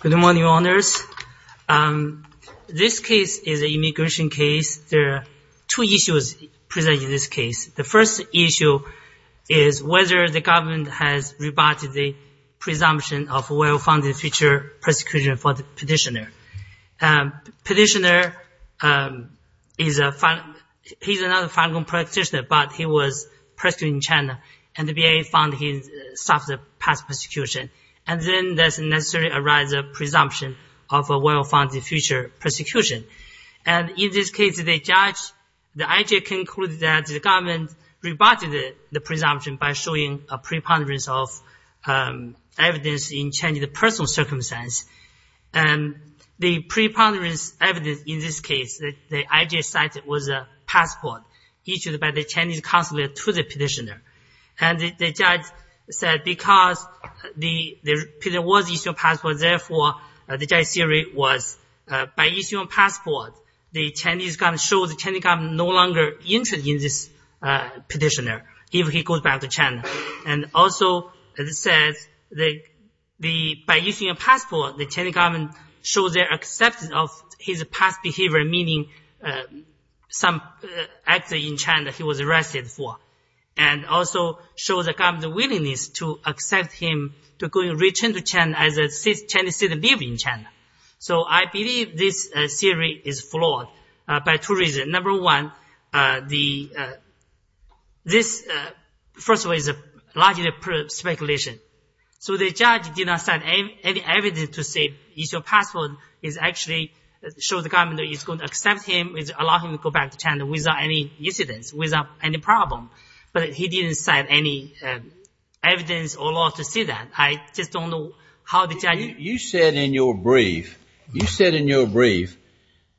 Good morning, Your Honors. This case is an immigration case. There are two issues presented in this case. The first issue is whether the government has rebutted the presumption of well-founded future persecution for the petitioner. Petitioner, he's another Falun Gong practitioner, but he was persecuted in China, and the BIA found he suffered past persecution. And then there necessarily arises a presumption of a well-founded future persecution. And in this case, the judge, the IJA, concluded that the government rebutted the presumption by showing a preponderance of evidence in China's personal circumstance. And the preponderance evidence in this case that the IJA cited was a passport issued by the Chinese consulate to the petitioner. And the judge said because the petitioner was issued a passport, therefore, the judge's theory was by issuing a passport, the Chinese government showed the Chinese government no longer interested in this petitioner if he goes back to China. And also, as I said, by issuing a passport, the Chinese government showed their acceptance of his past behavior, meaning some action in China he was arrested for. And also showed the government's willingness to accept him to go and return to China as a Chinese citizen living in China. So I believe this theory is flawed by two reasons. Number one, this, first of all, is largely speculation. So the judge did not cite any evidence to say issuing a passport is actually showing the government is going to accept him, allow him to go back to China without any incidents, without any problem. But he didn't cite any evidence or law to say that. I just don't know how the judge – You said in your brief, you said in your brief,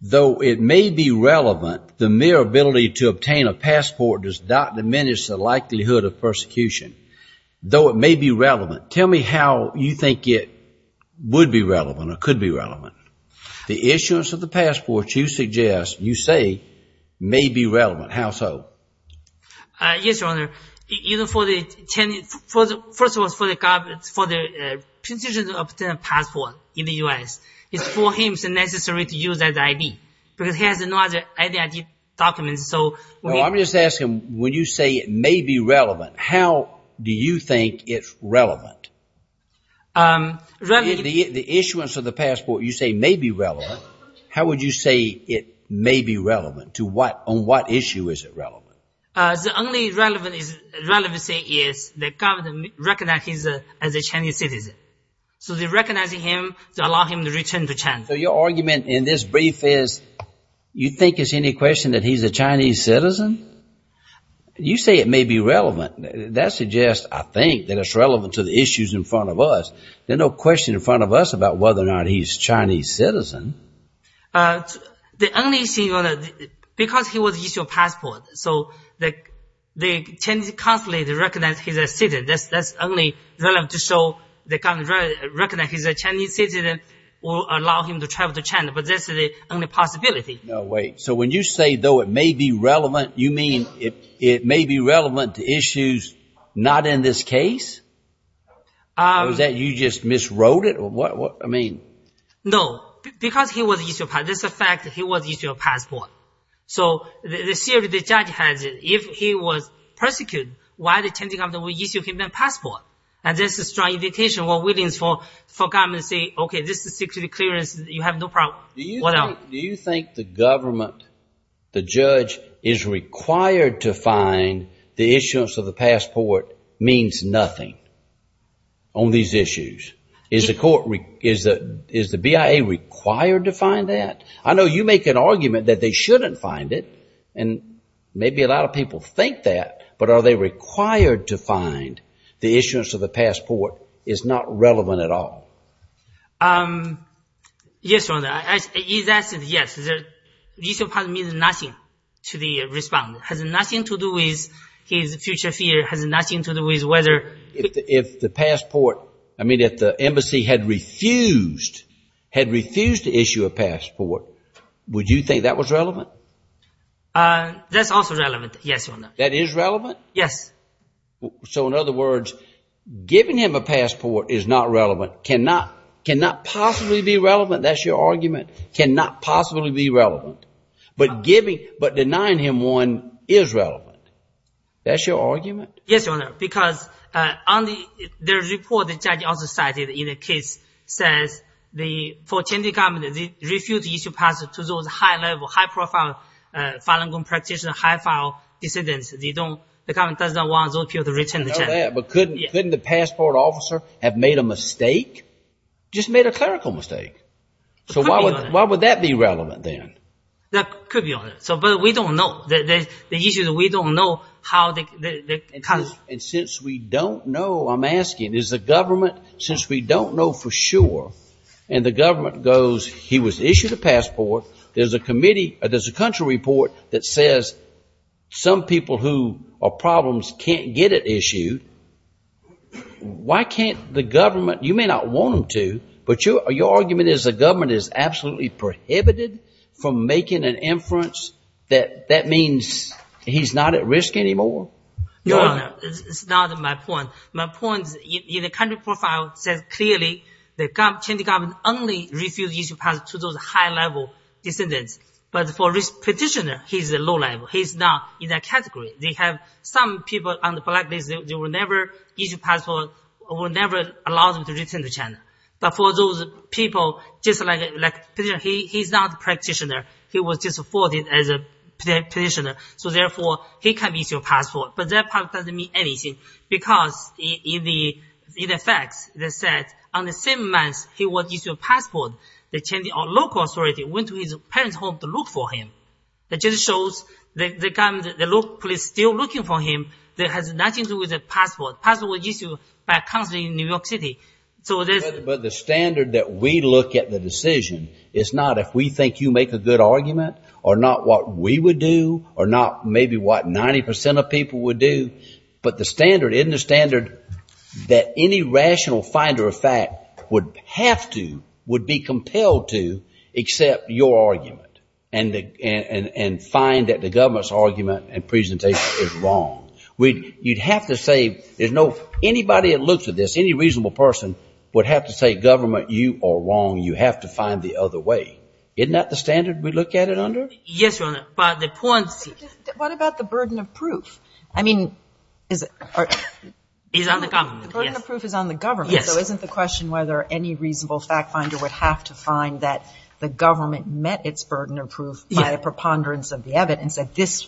though it may be relevant, the mere ability to obtain a passport does not diminish the likelihood of persecution. Though it may be relevant, tell me how you think it would be relevant or could be relevant. The issuance of the passport you suggest, you say, may be relevant. How so? Yes, Your Honor. First of all, for the government, for the petitioner to obtain a passport in the U.S., it's for him it's necessary to use his ID. Because he has no other ID documents. No, I'm just asking, when you say it may be relevant, how do you think it's relevant? The issuance of the passport you say may be relevant. How would you say it may be relevant? On what issue is it relevant? The only relevant thing is the government recognizes him as a Chinese citizen. So they're recognizing him to allow him to return to China. Your argument in this brief is you think it's any question that he's a Chinese citizen? You say it may be relevant. That suggests, I think, that it's relevant to the issues in front of us. There's no question in front of us about whether or not he's a Chinese citizen. The only issue, Your Honor, because he was issued a passport, so the Chinese consulate recognizes he's a citizen. That's only relevant to show the government recognizes he's a Chinese citizen or allow him to travel to China, but that's the only possibility. No, wait. So when you say, though, it may be relevant, you mean it may be relevant to issues not in this case? Or is that you just miswrote it? No, because he was issued a passport. That's a fact that he was issued a passport. So the theory the judge has is if he was persecuted, why the Chinese government would issue him a passport? And this is a strong indication for the government to say, okay, this is security clearance. You have no problem. Do you think the government, the judge, is required to find the issuance of the passport means nothing on these issues? Is the BIA required to find that? I know you make an argument that they shouldn't find it, and maybe a lot of people think that, but are they required to find the issuance of the passport is not relevant at all? Yes, Your Honor. His answer is yes. Issuing a passport means nothing to the respondent. It has nothing to do with his future fear. It has nothing to do with whether— If the passport, I mean if the embassy had refused, had refused to issue a passport, would you think that was relevant? That's also relevant, yes, Your Honor. That is relevant? Yes. So in other words, giving him a passport is not relevant, cannot possibly be relevant, that's your argument? Cannot possibly be relevant. But denying him one is relevant. That's your argument? Yes, Your Honor, because on the report the judge also cited in the case says for the Chinese government, they refused to issue a passport to those high-level, high-profile Falun Gong practitioners, high-file dissidents. The government does not want those people to return to China. I know that, but couldn't the passport officer have made a mistake? Just made a clerical mistake. So why would that be relevant then? That could be, Your Honor. But we don't know. The issue is we don't know how the country— And since we don't know, I'm asking, is the government, since we don't know for sure, and the government goes, he was issued a passport, there's a committee, there's a country report that says some people who are problems can't get it issued, why can't the government, you may not want them to, but your argument is the government is absolutely prohibited from making an inference that that means he's not at risk anymore? Your Honor, it's not my point. My point in the country profile says clearly the Chinese government only refused to issue a passport to those high-level dissidents. But for this practitioner, he's a low-level. He's not in that category. They have some people on the blacklist, they will never issue a passport, will never allow them to return to China. But for those people, he's not a practitioner. He was just afforded as a practitioner. So therefore, he can't issue a passport. But that doesn't mean anything because in the facts, they said on the same month he was issued a passport, the local authority went to his parents' home to look for him. That just shows the local police are still looking for him. It has nothing to do with the passport. The passport was issued by a country in New York City. But the standard that we look at the decision is not if we think you make a good argument or not what we would do or not maybe what 90% of people would do, but the standard in the standard that any rational finder of fact would have to, would be compelled to accept your argument and find that the government's argument and presentation is wrong. You'd have to say there's no, anybody that looks at this, any reasonable person, would have to say government, you are wrong, you have to find the other way. Isn't that the standard we look at it under? Yes, Your Honor, but the point is. What about the burden of proof? I mean, is it? It's on the government. The burden of proof is on the government. Yes. So isn't the question whether any reasonable fact finder would have to find that the government met its burden of proof by a preponderance of the evidence that this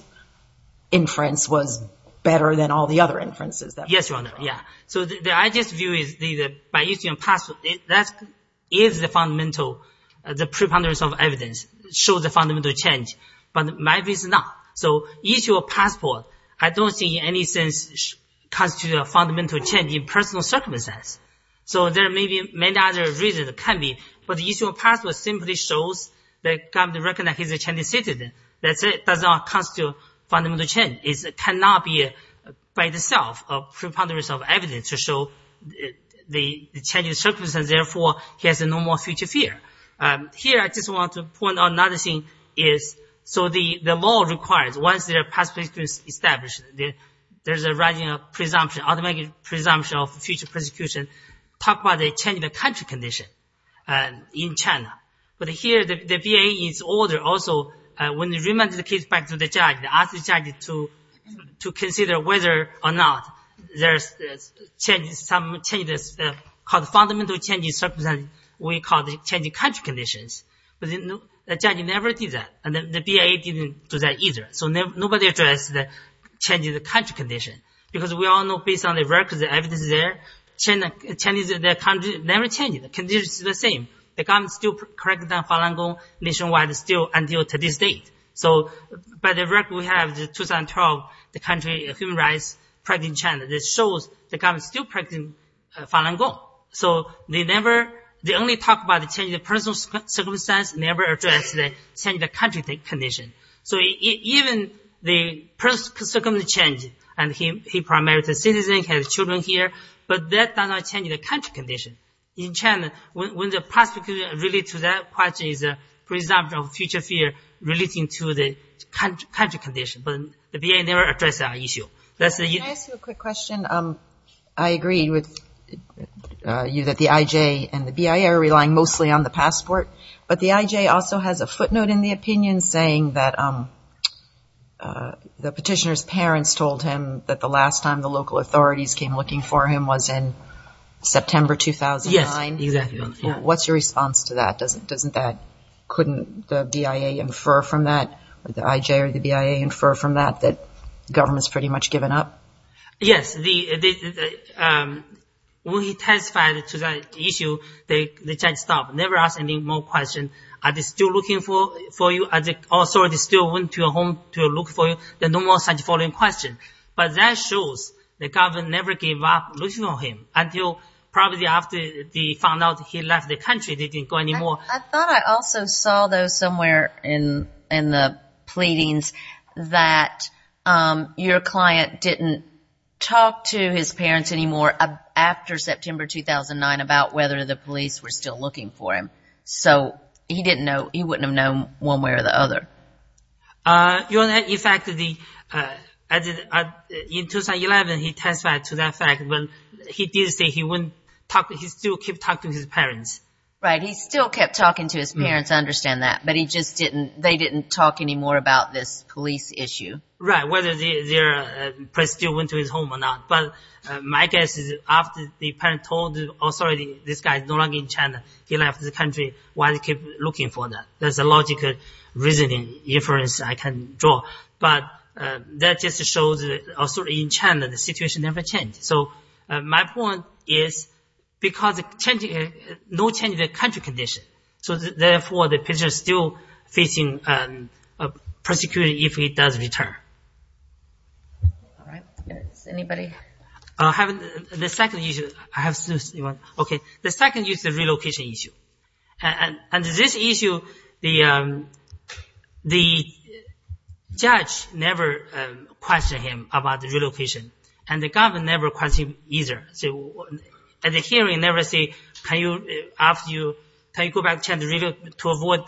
inference was better than all the other inferences? Yes, Your Honor, yeah. So I just view it by issuing a passport. That is the fundamental, the preponderance of evidence shows the fundamental change. But my view is not. So issuing a passport I don't see in any sense constitutes a fundamental change in personal circumstance. So there may be many other reasons that can be, but issuing a passport simply shows the government recognizes he's a Chinese citizen. That's it. It does not constitute a fundamental change. It cannot be by itself a preponderance of evidence to show the Chinese circumstance, and therefore he has no more future fear. Here I just want to point out another thing is, so the law requires, once the passport is established, there's a presumption, automatic presumption of future persecution. Talk about the change of the country condition in China. But here the VA is older. Also, when they remanded the case back to the judge, they asked the judge to consider whether or not there's changes, some changes called fundamental changes in circumstance we call the changing country conditions. But the judge never did that, and the VA didn't do that either. So nobody addressed the change in the country condition. Because we all know based on the records, the evidence is there, the country never changed. The conditions are the same. The government still corrects the Falun Gong nationwide still until today's date. So by the record we have 2012, the country human rights practice in China. This shows the government is still practicing Falun Gong. So they only talk about the change in the personal circumstance, never address the change in the country condition. So even the personal circumstance change, and he primarily is a citizen, has children here, but that does not change the country condition. In China, when the prosecution relates to that question, it's a presumption of future fear relating to the country condition. But the VA never addressed that issue. Can I ask you a quick question? I agree with you that the IJ and the BIA are relying mostly on the passport, but the IJ also has a footnote in the opinion saying that the petitioner's parents told him that the last time the local authorities came looking for him was in September 2009. Yes, exactly. What's your response to that? Couldn't the BIA infer from that, the IJ or the BIA infer from that, that the government has pretty much given up? Yes. When he testified to that issue, the judge stopped, never asked any more questions. Are they still looking for you? Are the authorities still going to your home to look for you? Then no more such following questions. But that shows the government never gave up looking for him, until probably after they found out he left the country, they didn't go anymore. I thought I also saw, though, somewhere in the pleadings, that your client didn't talk to his parents anymore after September 2009 about whether the police were still looking for him. So he wouldn't have known one way or the other. In fact, in 2011, he testified to that fact. He did say he still kept talking to his parents. Right, he still kept talking to his parents. I understand that. But they didn't talk anymore about this police issue. Right, whether they still went to his home or not. But my guess is after the parent told the authority, this guy is no longer in China, he left the country, why they keep looking for that? There's a logical reasoning inference I can draw. But that just shows in China the situation never changed. So my point is because no change in the country condition, so therefore the prisoner is still facing prosecution if he does return. All right. Anybody? I have the second issue. The second is the relocation issue. Under this issue, the judge never questioned him about the relocation, and the government never questioned him either. At the hearing, they never say, can you go back to China to avoid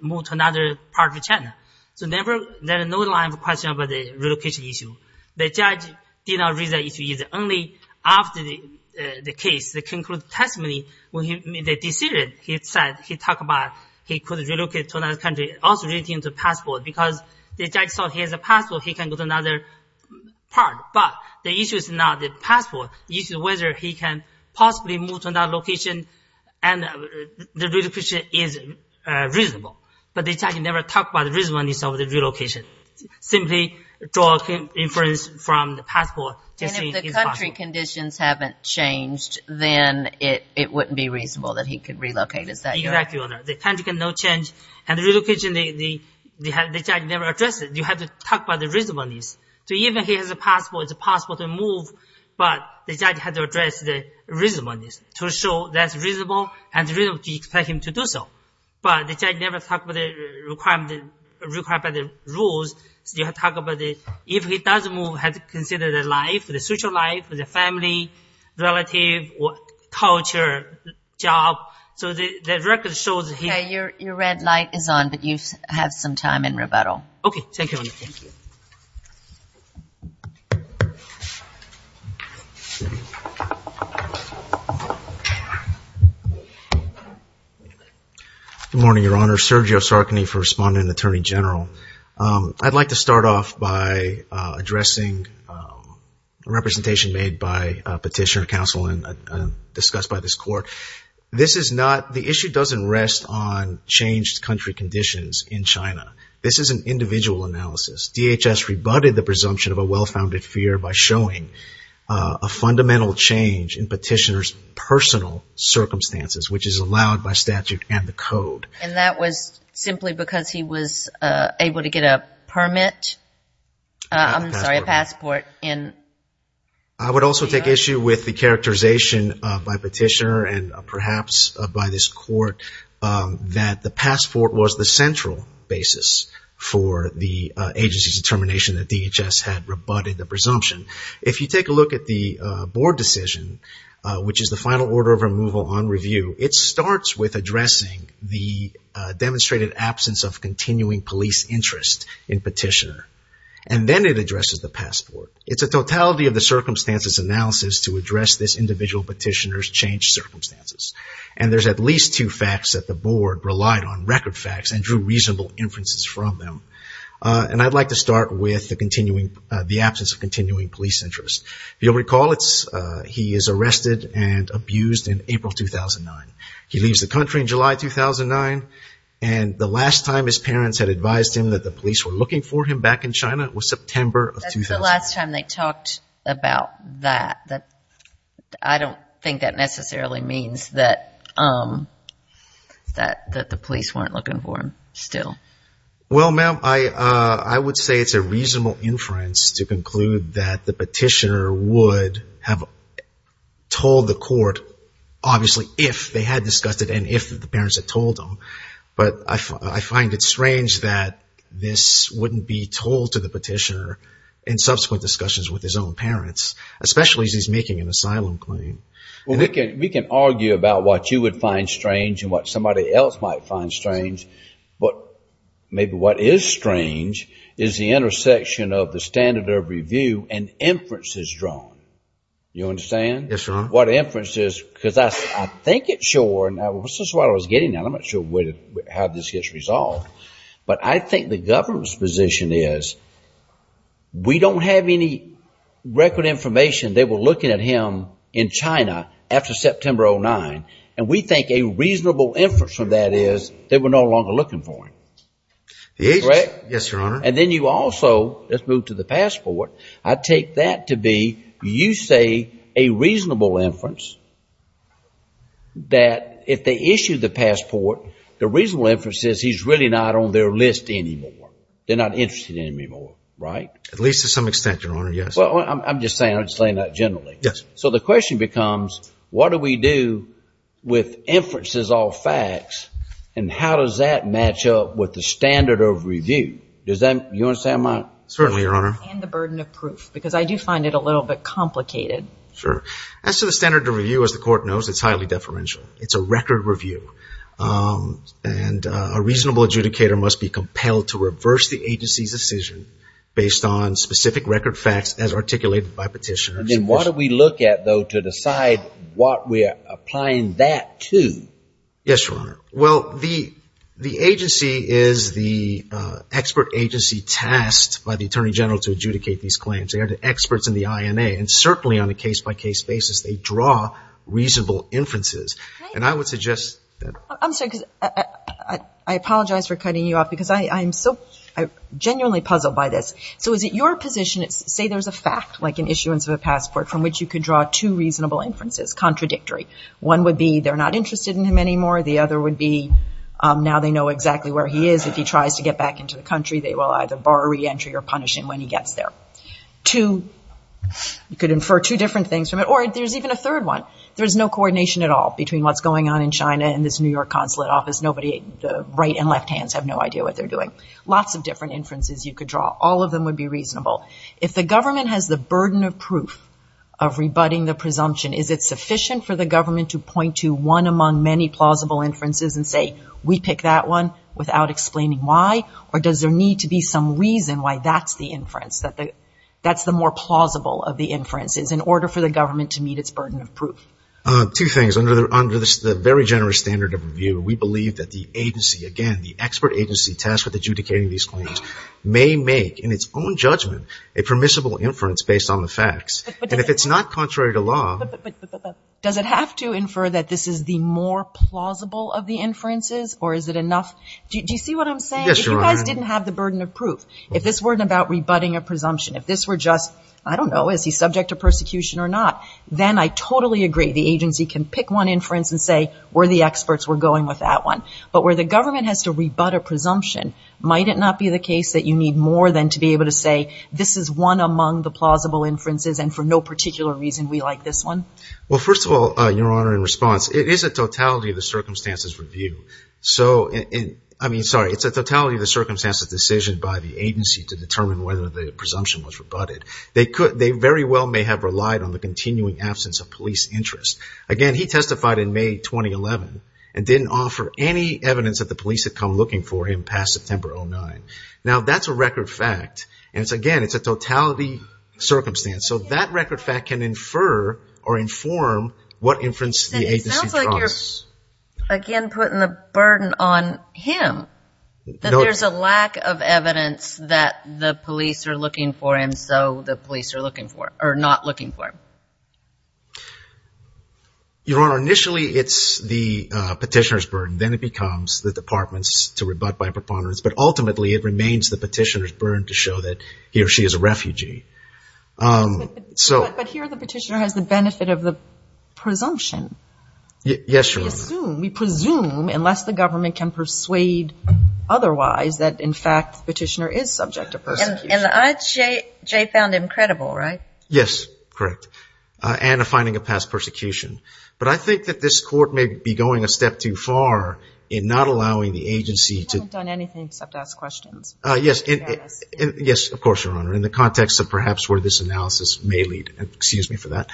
moving to another part of China? So there is no line of question about the relocation issue. The judge did not raise that issue either. Only after the case, the conclusive testimony, when he made the decision, he said he talked about he could relocate to another country, because the judge saw he has a passport, he can go to another part. But the issue is not the passport. The issue is whether he can possibly move to another location, and the relocation is reasonable. But the judge never talked about the reasonableness of the relocation. Simply draw inference from the passport. And if the country conditions haven't changed, then it wouldn't be reasonable that he could relocate. Exactly. And the relocation, the judge never addressed it. You have to talk about the reasonableness. So even if he has a passport, it's possible to move, but the judge has to address the reasonableness to show that it's reasonable, and it's reasonable to expect him to do so. But the judge never talked about the requirement, the rules. You have to talk about if he does move, he has to consider the life, the social life, the family, relative, culture, job. Okay. Your red light is on, but you have some time in rebuttal. Okay. Thank you. Good morning, Your Honor. Sergio Sarkany for Respondent and Attorney General. I'd like to start off by addressing a representation made by a petitioner, counsel, and discussed by this court. This is not, the issue doesn't rest on changed country conditions in China. This is an individual analysis. DHS rebutted the presumption of a well-founded fear by showing a fundamental change in petitioner's personal circumstances, which is allowed by statute and the code. And that was simply because he was able to get a permit? I'm sorry, a passport. I would also take issue with the characterization by petitioner and perhaps by this court that the passport was the central basis for the agency's determination that DHS had rebutted the presumption. If you take a look at the board decision, which is the final order of removal on review, it starts with addressing the demonstrated absence of continuing police interest in petitioner. And then it addresses the passport. It's a totality of the circumstances analysis to address this individual petitioner's changed circumstances. And there's at least two facts that the board relied on, record facts and drew reasonable inferences from them. And I'd like to start with the absence of continuing police interest. If you'll recall, he is arrested and abused in April 2009. He leaves the country in July 2009. And the last time his parents had advised him that the police were looking for him back in China was September of 2009. That's the last time they talked about that. I don't think that necessarily means that the police weren't looking for him still. Well, ma'am, I would say it's a reasonable inference to conclude that the petitioner would have told the court, obviously, if they had discussed it and if the parents had told him. But I find it strange that this wouldn't be told to the petitioner in subsequent discussions with his own parents, especially as he's making an asylum claim. Well, we can argue about what you would find strange and what somebody else might find strange. But maybe what is strange is the intersection of the standard of review and inferences drawn. You understand? Yes, Your Honor. Because I think it's sure. This is what I was getting at. I'm not sure how this gets resolved. But I think the government's position is we don't have any record information they were looking at him in China after September 2009. And we think a reasonable inference from that is they were no longer looking for him. Yes, Your Honor. And then you also, let's move to the passport, I take that to be you say a reasonable inference that if they issue the passport, the reasonable inference is he's really not on their list anymore. They're not interested in him anymore. Right? At least to some extent, Your Honor. Yes. Well, I'm just saying that generally. Yes. So the question becomes, what do we do with inferences off facts and how does that match up with the standard of review? You understand my point? Certainly, Your Honor. And the burden of proof because I do find it a little bit complicated. Sure. As to the standard of review, as the court knows, it's highly deferential. It's a record review. And a reasonable adjudicator must be compelled to reverse the agency's decision based on specific record facts as articulated by petitioners. And then what do we look at, though, to decide what we're applying that to? Yes, Your Honor. Well, the agency is the expert agency tasked by the Attorney General to adjudicate these claims. They are the experts in the INA. And certainly on a case-by-case basis, they draw reasonable inferences. And I would suggest that. I'm sorry. I apologize for cutting you off because I'm so genuinely puzzled by this. So is it your position, say there's a fact, like an issuance of a passport, from which you could draw two reasonable inferences, contradictory. One would be they're not interested in him anymore. The other would be now they know exactly where he is. If he tries to get back into the country, they will either bar reentry or punish him when he gets there. Two, you could infer two different things from it. Or there's even a third one. There's no coordination at all between what's going on in China and this New York consulate office. Nobody, the right and left hands have no idea what they're doing. Lots of different inferences you could draw. All of them would be reasonable. If the government has the burden of proof of rebutting the presumption, is it sufficient for the government to point to one among many plausible inferences and say we pick that one without explaining why? Or does there need to be some reason why that's the inference, that's the more plausible of the inferences in order for the government to meet its burden of proof? Two things. Under the very generous standard of review, we believe that the agency, again, the expert agency tasked with adjudicating these claims may make, in its own judgment, a permissible inference based on the facts. And if it's not contrary to law. But does it have to infer that this is the more plausible of the inferences or is it enough? Do you see what I'm saying? Yes, Your Honor. If you guys didn't have the burden of proof, if this weren't about rebutting a presumption, if this were just, I don't know, is he subject to persecution or not, then I totally agree the agency can pick one inference and say we're the experts, we're going with that one. But where the government has to rebut a presumption, might it not be the case that you need more than to be able to say this is one among the plausible inferences and for no particular reason we like this one? Well, first of all, Your Honor, in response, it is a totality of the circumstances review. So, I mean, sorry, it's a totality of the circumstances decision by the agency to determine whether the presumption was rebutted. They could, they very well may have relied on the continuing absence of police interest. Again, he testified in May 2011 and didn't offer any evidence that the police had come looking for him past September 09. Now that's a record fact. And it's, again, it's a totality circumstance. So that record fact can infer or inform what inference the agency trusts. It sounds like you're, again, putting the burden on him. That there's a lack of evidence that the police are looking for him, so the police are looking for him, or not looking for him. Your Honor, initially it's the petitioner's burden. Then it becomes the department's to rebut by preponderance. But ultimately it remains the petitioner's burden to show that he or she is a refugee. But here the petitioner has the benefit of the presumption. Yes, Your Honor. We assume, we presume, unless the government can persuade otherwise, that in fact the petitioner is subject to persecution. And the IJ found him credible, right? Yes, correct. And a finding of past persecution. But I think that this Court may be going a step too far in not allowing the agency to I haven't done anything except to ask questions. Yes, of course, Your Honor. In the context of perhaps where this analysis may lead. Excuse me for that.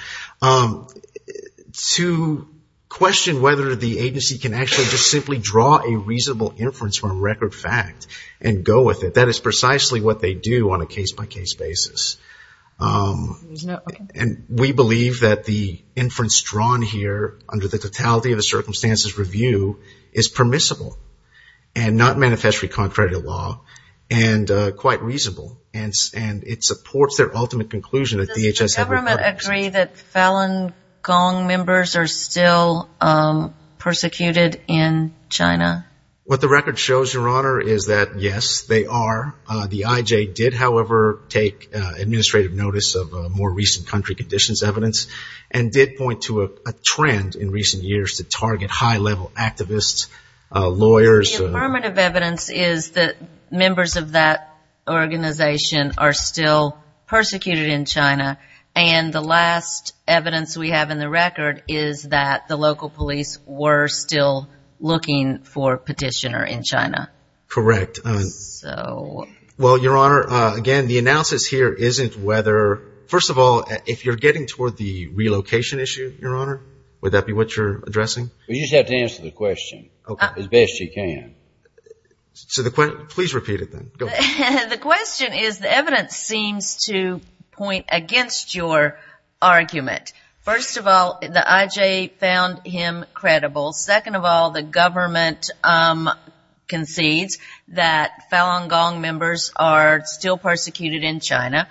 To question whether the agency can actually just simply draw a reasonable inference from record fact and go with it, that is precisely what they do on a case-by-case basis. And we believe that the inference drawn here under the totality of the circumstances review is permissible. And not manifestly contrary to law. And quite reasonable. And it supports their ultimate conclusion that DHS has a Does the government agree that Falun Gong members are still persecuted in China? What the record shows, Your Honor, is that yes, they are. The IJ did, however, take administrative notice of more recent country conditions evidence. And did point to a trend in recent years to target high-level activists, lawyers. The affirmative evidence is that members of that organization are still persecuted in China. And the last evidence we have in the record is that the local police were still looking for a petitioner in China. Correct. So. Well, Your Honor, again, the analysis here isn't whether, first of all, if you're getting toward the relocation issue, Your Honor, would that be what you're addressing? You just have to answer the question as best you can. Please repeat it then. Go ahead. The question is the evidence seems to point against your argument. First of all, the IJ found him credible. Second of all, the government concedes that Falun Gong members are still persecuted in China.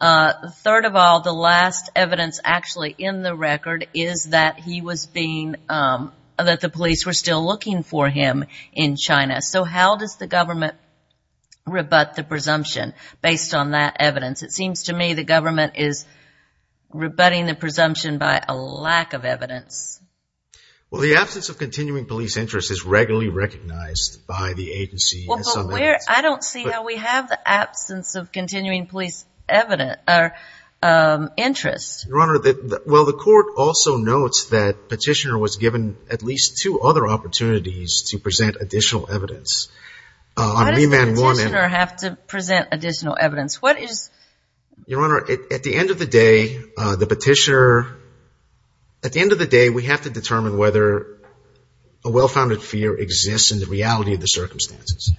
Third of all, the last evidence actually in the record is that he was being looked for, that the police were still looking for him in China. So how does the government rebut the presumption based on that evidence? It seems to me the government is rebutting the presumption by a lack of evidence. Well, the absence of continuing police interest is regularly recognized by the agency. I don't see how we have the absence of continuing police interest. Your Honor, well the court also notes that Petitioner was given at least two other opportunities to present additional evidence. Why does the Petitioner have to present additional evidence? What is? Your Honor, at the end of the day, the Petitioner, at the end of the day we have to determine whether a well-founded fear exists in the reality of the circumstances.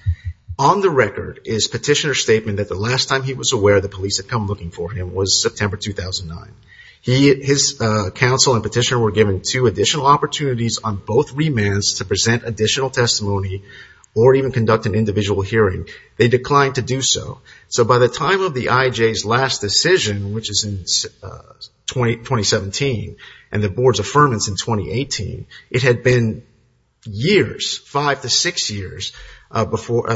On the record is Petitioner's statement that the last time he was aware the police had come looking for him was September 2009. His counsel and Petitioner were given two additional opportunities on both remands to present additional testimony or even conduct an individual hearing. They declined to do so. So by the time of the IJ's last decision, which is in 2017, and the Board's affirmance in 2018, it had been years, five to six years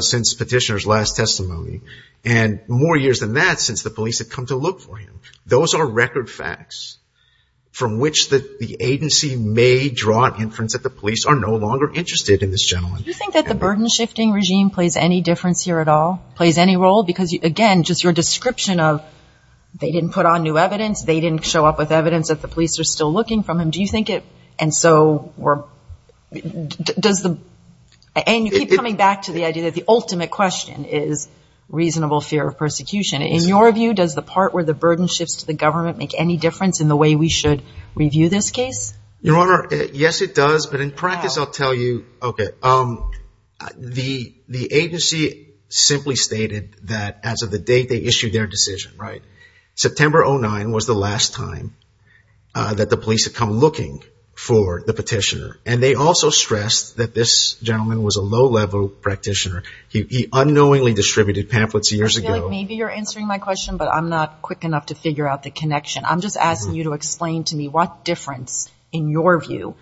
since Petitioner's last testimony, and more years than that since the police had come to look for him. Those are record facts from which the agency may draw inference that the police are no longer interested in this gentleman. Do you think that the burden shifting regime plays any difference here at all, plays any role? Because, again, just your description of they didn't put on new evidence, they didn't show up with evidence that the police are still looking for him, do you think it, and so does the, and you keep coming back to the idea that the ultimate question is reasonable fear of persecution. In your view, does the part where the burden shifts to the government make any difference in the way we should review this case? Your Honor, yes it does, but in practice I'll tell you. Okay. The agency simply stated that as of the date they issued their decision, right? September 09 was the last time that the police had come looking for the Petitioner, and they also stressed that this gentleman was a low-level practitioner. He unknowingly distributed pamphlets years ago. I feel like maybe you're answering my question, but I'm not quick enough to figure out the connection. I'm just asking you to explain to me what difference, in your view,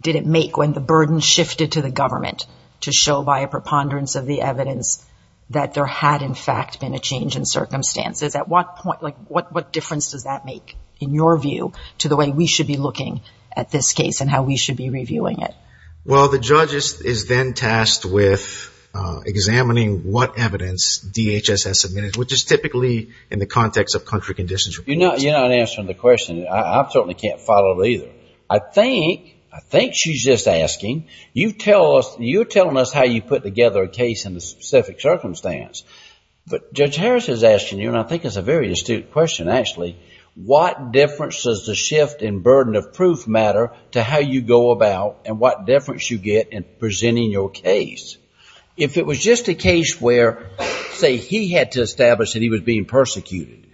did it make when the burden shifted to the government to show by a preponderance of the evidence that there had, in fact, been a change in circumstances. At what point, like, what difference does that make, in your view, to the way we should be looking at this case and how we should be reviewing it? Well, the judge is then tasked with examining what evidence DHS has submitted, which is typically in the context of country conditions. You're not answering the question. I certainly can't follow it either. I think she's just asking. You're telling us how you put together a case in a specific circumstance, but Judge Harris is asking you, and I think it's a very astute question, actually, what difference does the shift in burden of proof matter to how you go about and what difference you get in presenting your case? If it was just a case where, say, he had to establish that he was being persecuted,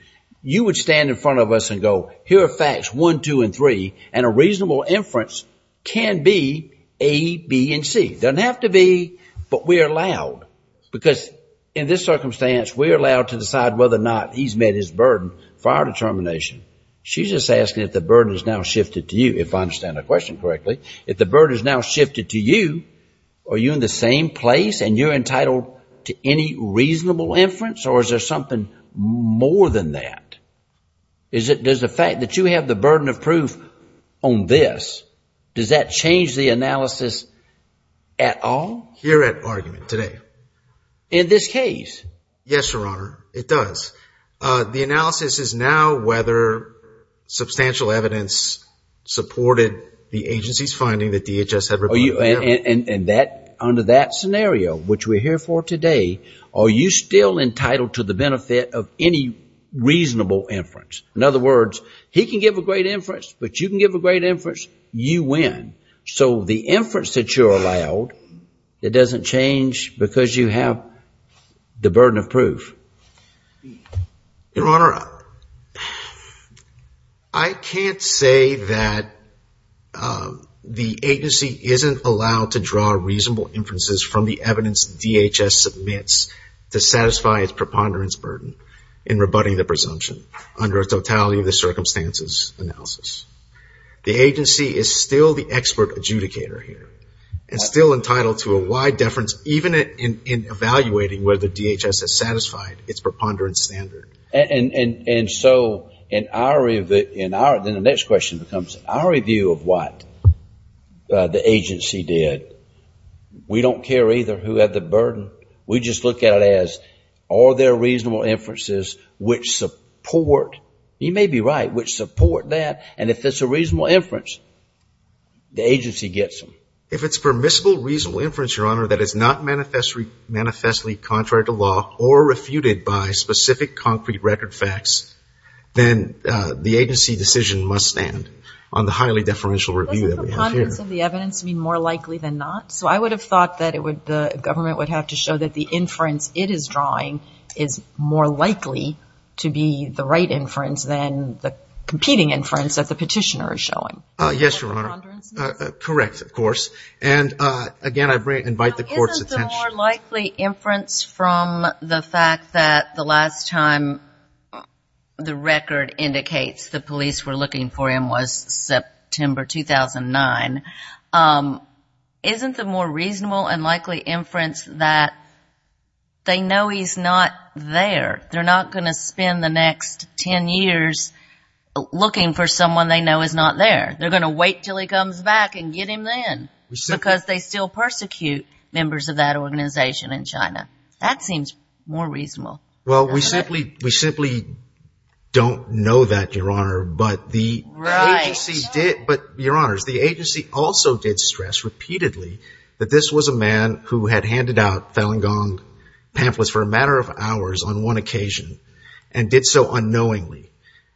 you would stand in front of us and go, here are facts one, two, and three, and a reasonable inference can be A, B, and C. It doesn't have to be, but we're allowed, because in this circumstance, we're allowed to decide whether or not he's met his burden for our determination. She's just asking if the burden has now shifted to you, if I understand the question correctly, if the burden has now shifted to you, are you in the same place and you're entitled to any reasonable inference, or is there something more than that? Does the fact that you have the burden of proof on this, does that change the analysis at all? You're at argument today. In this case? Yes, Your Honor, it does. The analysis is now whether substantial evidence supported the agency's finding that DHS had reported. And under that scenario, which we're here for today, are you still entitled to the benefit of any reasonable inference? In other words, he can give a great inference, but you can give a great inference, you win. So the inference that you're allowed, it doesn't change because you have the burden of proof. Your Honor, I can't say that the agency isn't allowed to draw reasonable inferences from the evidence DHS submits to satisfy its preponderance burden in rebutting the presumption under a totality of the circumstances analysis. The agency is still the expert adjudicator here, and still entitled to a wide deference, even in evaluating whether DHS has satisfied its preponderance standard. And so in our review, then the next question becomes, in our review of what the agency did, we don't care either who had the burden. We just look at it as, are there reasonable inferences which support, you may be right, which support that, and if it's a reasonable inference, the agency gets them. If it's permissible, reasonable inference, Your Honor, that is not manifestly contrary to law or refuted by specific concrete record facts, then the agency decision must stand on the highly deferential review that we have here. Does the preponderance of the evidence mean more likely than not? So I would have thought that the government would have to show that the inference it is drawing is more likely to be the right inference than the competing inference that the petitioner is showing. Yes, Your Honor. Is that the preponderance? Correct, of course. And again, I invite the Court's attention. Now, isn't the more likely inference from the fact that the last time the record indicates the police were looking for him was September 2009, isn't the more reasonable and likely inference that they know he's not there? They're not going to spend the next ten years looking for someone they know is not there. They're going to wait until he comes back and get him then, because they still persecute members of that organization in China. That seems more reasonable. Well, we simply don't know that, Your Honor. Right. But, Your Honors, the agency also did stress repeatedly that this was a man who had handed out Falun Gong pamphlets for a matter of hours on one occasion and did so unknowingly.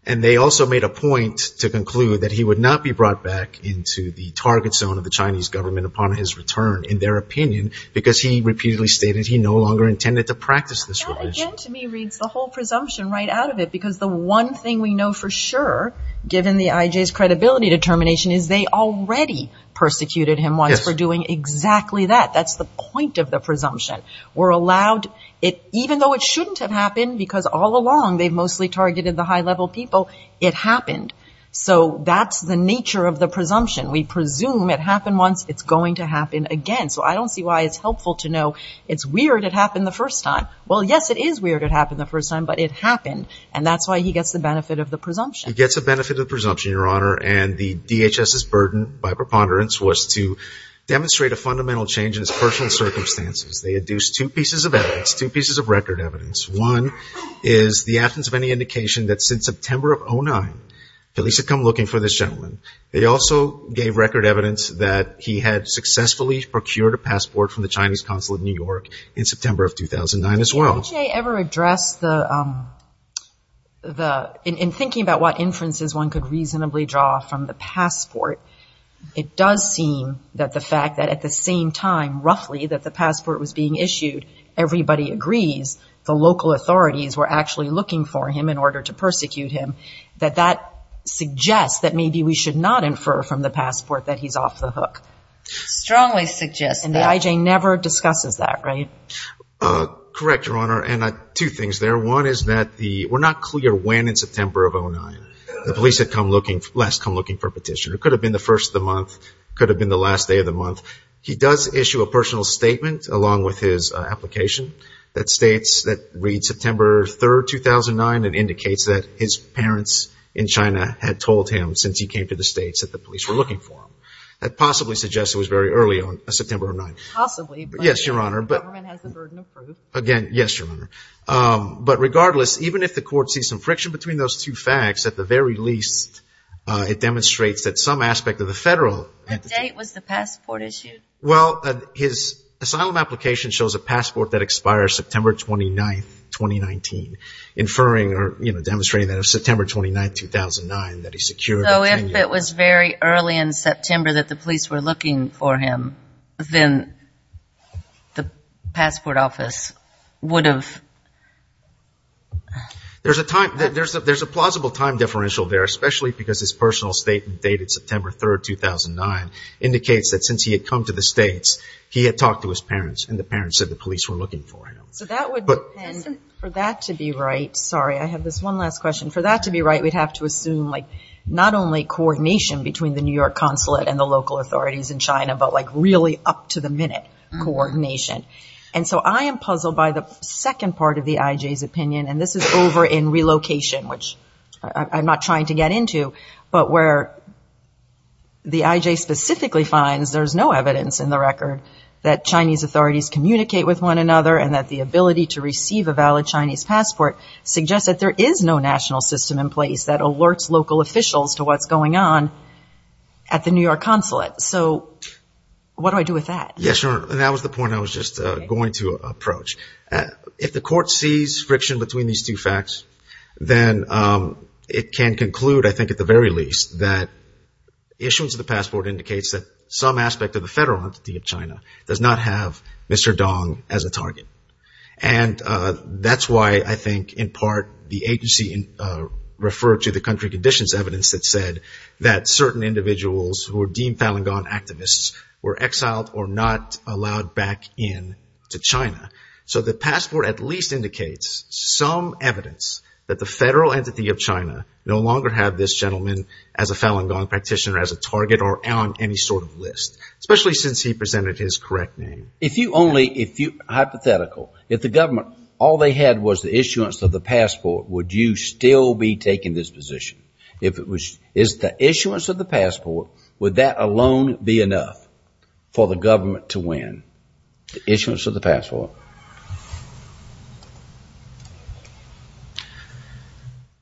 And they also made a point to conclude that he would not be brought back into the target zone of the Chinese government upon his return, in their opinion, because he repeatedly stated he no longer intended to practice this religion. That, again, to me, reads the whole presumption right out of it, because the one thing we know for sure, given the IJ's credibility determination, is they already persecuted him once for doing exactly that. That's the point of the presumption. We're allowed it, even though it shouldn't have happened, because all along they've mostly targeted the high-level people, it happened. So that's the nature of the presumption. We presume it happened once, it's going to happen again. So I don't see why it's helpful to know it's weird it happened the first time. Well, yes, it is weird it happened the first time, but it happened. And that's why he gets the benefit of the presumption. He gets the benefit of the presumption, Your Honor. And the DHS's burden, by preponderance, was to demonstrate a fundamental change in his personal circumstances. They induced two pieces of evidence, two pieces of record evidence. One is the absence of any indication that since September of 2009, Felice had come looking for this gentleman. They also gave record evidence that he had successfully procured a passport from the Chinese consulate in New York in September of 2009 as well. Did the IJ ever address the ‑‑ in thinking about what inferences one could reasonably draw from the passport, it does seem that the fact that at the same time, roughly, that the passport was being issued, everybody agrees, the local authorities were actually looking for him in order to persecute him, that that suggests that maybe we should not infer from the passport that he's off the hook. I strongly suggest that. And the IJ never discusses that, right? Correct, Your Honor. And two things there. One is that we're not clear when in September of 2009 Felice had come looking, last come looking for a petition. It could have been the first of the month, could have been the last day of the month. He does issue a personal statement along with his application that states, that reads September 3rd, 2009, and indicates that his parents in China had told him since he came to the States that the police were looking for him. That possibly suggests it was very early on September of 2009. Possibly. Yes, Your Honor. The government has the burden of proof. Again, yes, Your Honor. But regardless, even if the court sees some friction between those two facts, at the very least it demonstrates that some aspect of the federal. What date was the passport issued? Well, his asylum application shows a passport that expires September 29th, 2019, inferring or demonstrating that it was September 29th, 2009 that he secured. So if it was very early in September that the police were looking for him, then the passport office would have. There's a plausible time differential there, especially because his personal statement dated September 3rd, 2009, indicates that since he had come to the States, he had talked to his parents and the parents said the police were looking for him. So that would depend. For that to be right, sorry, I have this one last question. For that to be right, we'd have to assume like not only coordination between the New York consulate and the local authorities in China, but like really up-to-the-minute coordination. And so I am puzzled by the second part of the I.J.'s opinion, and this is over in Relocation, which I'm not trying to get into, but where the I.J. specifically finds there's no evidence in the record that Chinese authorities communicate with one another and that the ability to receive a valid Chinese passport suggests that there is no national system in place that alerts local officials to what's going on at the New York consulate. So what do I do with that? Yes, Your Honor, and that was the point I was just going to approach. If the court sees friction between these two facts, then it can conclude, I think at the very least, that issuance of the passport indicates that some aspect of the federal entity of China does not have Mr. Dong as a target. And that's why I think in part the agency referred to the country conditions evidence that said that certain individuals who were deemed Falun Gong activists were exiled or not allowed back in to China. So the passport at least indicates some evidence that the federal entity of China no longer have this gentleman as a Falun Gong practitioner as a target or on any sort of list, especially since he presented his correct name. If you only, hypothetical, if the government, all they had was the issuance of the passport, would you still be taking this position? If it was the issuance of the passport, would that alone be enough for the government to win? The issuance of the passport.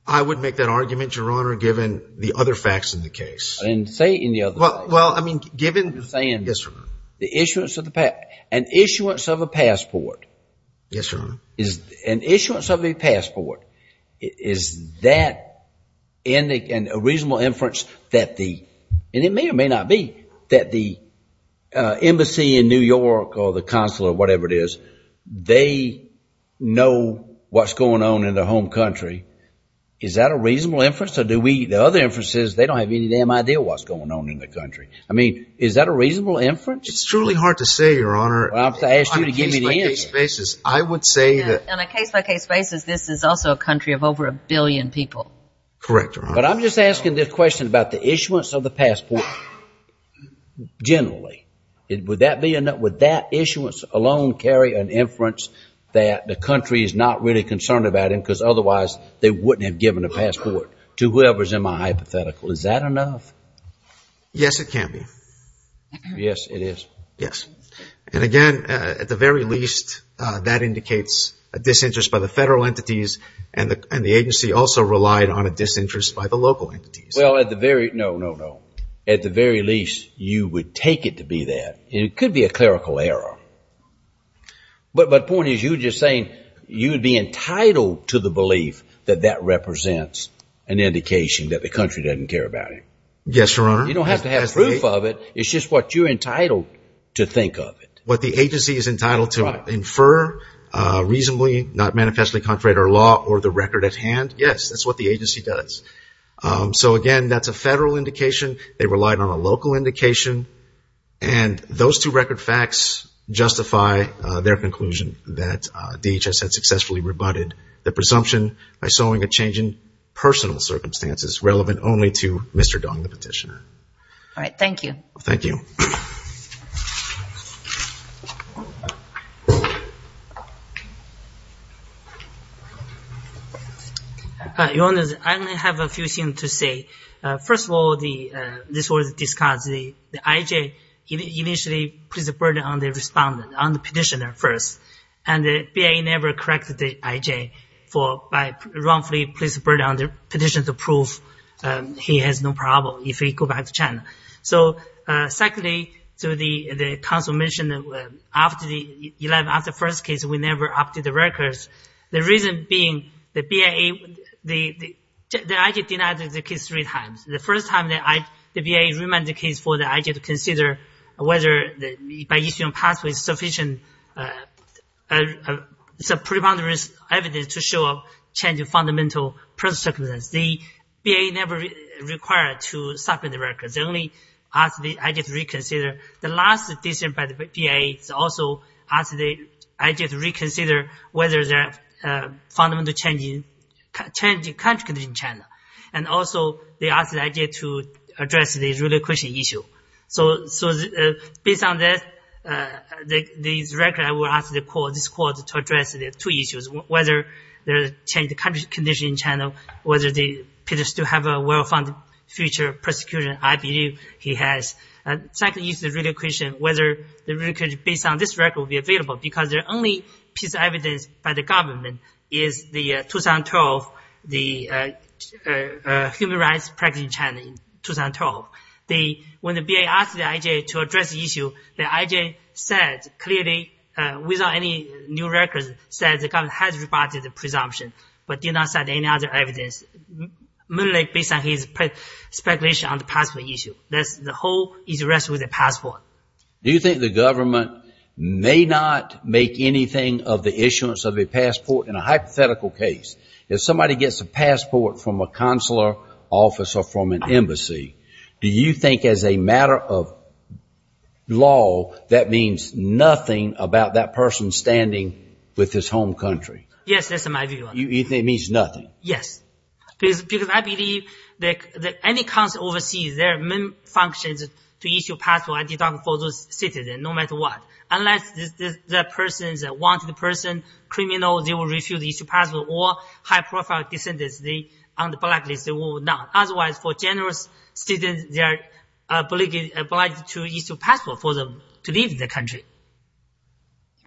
I would make that argument, Your Honor, given the other facts in the case. And say in the other facts. Well, I mean, given. I'm just saying. Yes, Your Honor. The issuance of the passport. An issuance of a passport. Yes, Your Honor. An issuance of a passport. Is that a reasonable inference that the, and it may or may not be, that the embassy in New York or the consulate or whatever it is, they know what's going on in their home country. Is that a reasonable inference or do we, the other inference is they don't have any damn idea what's going on in the country. I mean, is that a reasonable inference? It's truly hard to say, Your Honor. If I asked you to give me the answer. On a case-by-case basis, I would say that. On a case-by-case basis, this is also a country of over a billion people. Correct, Your Honor. But I'm just asking this question about the issuance of the passport generally. Would that be enough? Would that issuance alone carry an inference that the country is not really concerned about him Is that enough? Yes, it can be. Yes, it is. Yes. And again, at the very least, that indicates a disinterest by the federal entities and the agency also relied on a disinterest by the local entities. Well, at the very, no, no, no. At the very least, you would take it to be that. It could be a clerical error. But the point is you're just saying you'd be entitled to the belief that that represents an indication that the country doesn't care about him. Yes, Your Honor. You don't have to have proof of it. It's just what you're entitled to think of it. What the agency is entitled to infer reasonably, not manifestly contrary to our law or the record at hand, yes, that's what the agency does. So, again, that's a federal indication. They relied on a local indication. And those two record facts justify their conclusion that DHS had successfully rebutted the presumption by sowing a change in personal circumstances relevant only to Mr. Dong, the petitioner. All right. Thank you. Thank you. Your Honor, I only have a few things to say. First of all, this was discussed. The IJ initially put the burden on the respondent, on the petitioner first, and the BIA never corrected the IJ by wrongfully placing the burden on the petitioner to prove he has no problem if he goes back to China. So, secondly, the counsel mentioned after the first case we never updated the records. The reason being the BIA, the IJ denied the case three times. The first time the BIA remanded the case for the IJ to consider whether by issuing a passport is sufficient to show a change in fundamental personal circumstances. The BIA never required to supplement the records. They only asked the IJ to reconsider. The last decision by the BIA also asked the IJ to reconsider whether there is a fundamental change in country condition in China. And also, they asked the IJ to address the relocation issue. So, based on this record, I will ask this court to address the two issues, whether there is a change in country condition in China, whether the petitioner still has a well-founded future prosecution. I believe he has. Secondly, the relocation, whether the relocation based on this record will be available, because the only piece of evidence by the government is the 2012, the human rights practice in China in 2012. When the BIA asked the IJ to address the issue, the IJ said clearly, without any new records, said the government has reported the presumption, but did not cite any other evidence, merely based on his speculation on the passport issue. The whole issue rests with the passport. Do you think the government may not make anything of the issuance of a passport in a hypothetical case? If somebody gets a passport from a consular office or from an embassy, do you think as a matter of law that means nothing about that person standing with his home country? Yes, that's my view. You think it means nothing? Yes. Because I believe that any consulate overseas, their main function is to issue a passport for those citizens, no matter what. Unless that person is a wanted person, criminal, they will refuse to issue a passport, or high-profile descendants on the blacklist, they will not. Otherwise, for generous citizens, they are obliged to issue a passport for them to leave the country.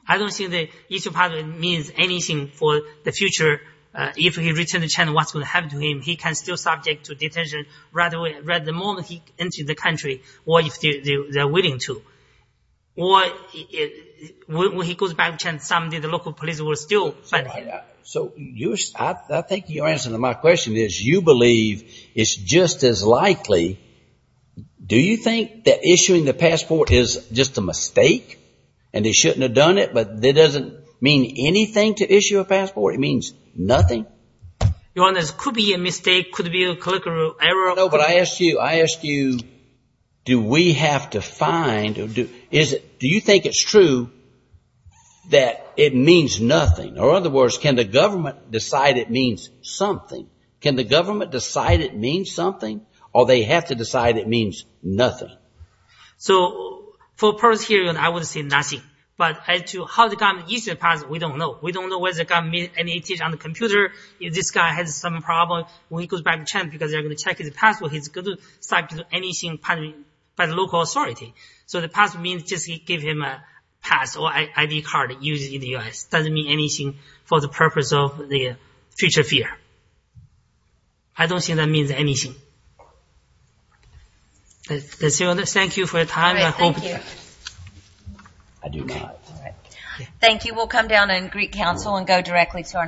I don't think that issuing a passport means anything for the future. If he returns to China, what's going to happen to him? He can still be subject to detention right the moment he enters the country, or if they are willing to. Or when he goes back to China, someday the local police will still find him. So I think your answer to my question is you believe it's just as likely. Do you think that issuing the passport is just a mistake, and they shouldn't have done it, but it doesn't mean anything to issue a passport? It means nothing? Your Honor, it could be a mistake, could be a colloquial error. No, but I asked you, I asked you, do we have to find, do you think it's true that it means nothing? Or in other words, can the government decide it means something? Can the government decide it means something? Or they have to decide it means nothing? So for the purpose here, I would say nothing. But as to how the government issued the passport, we don't know. We don't know whether the government issued it on the computer. If this guy has some problem, when he goes back to China, because they're going to check his passport, he's going to subject to anything by the local authority. So the passport means just give him a pass, or ID card used in the U.S. It doesn't mean anything for the purpose of the future fear. I don't think that means anything. Thank you for your time. Thank you. Thank you. We'll come down and greet counsel and go directly to our next case.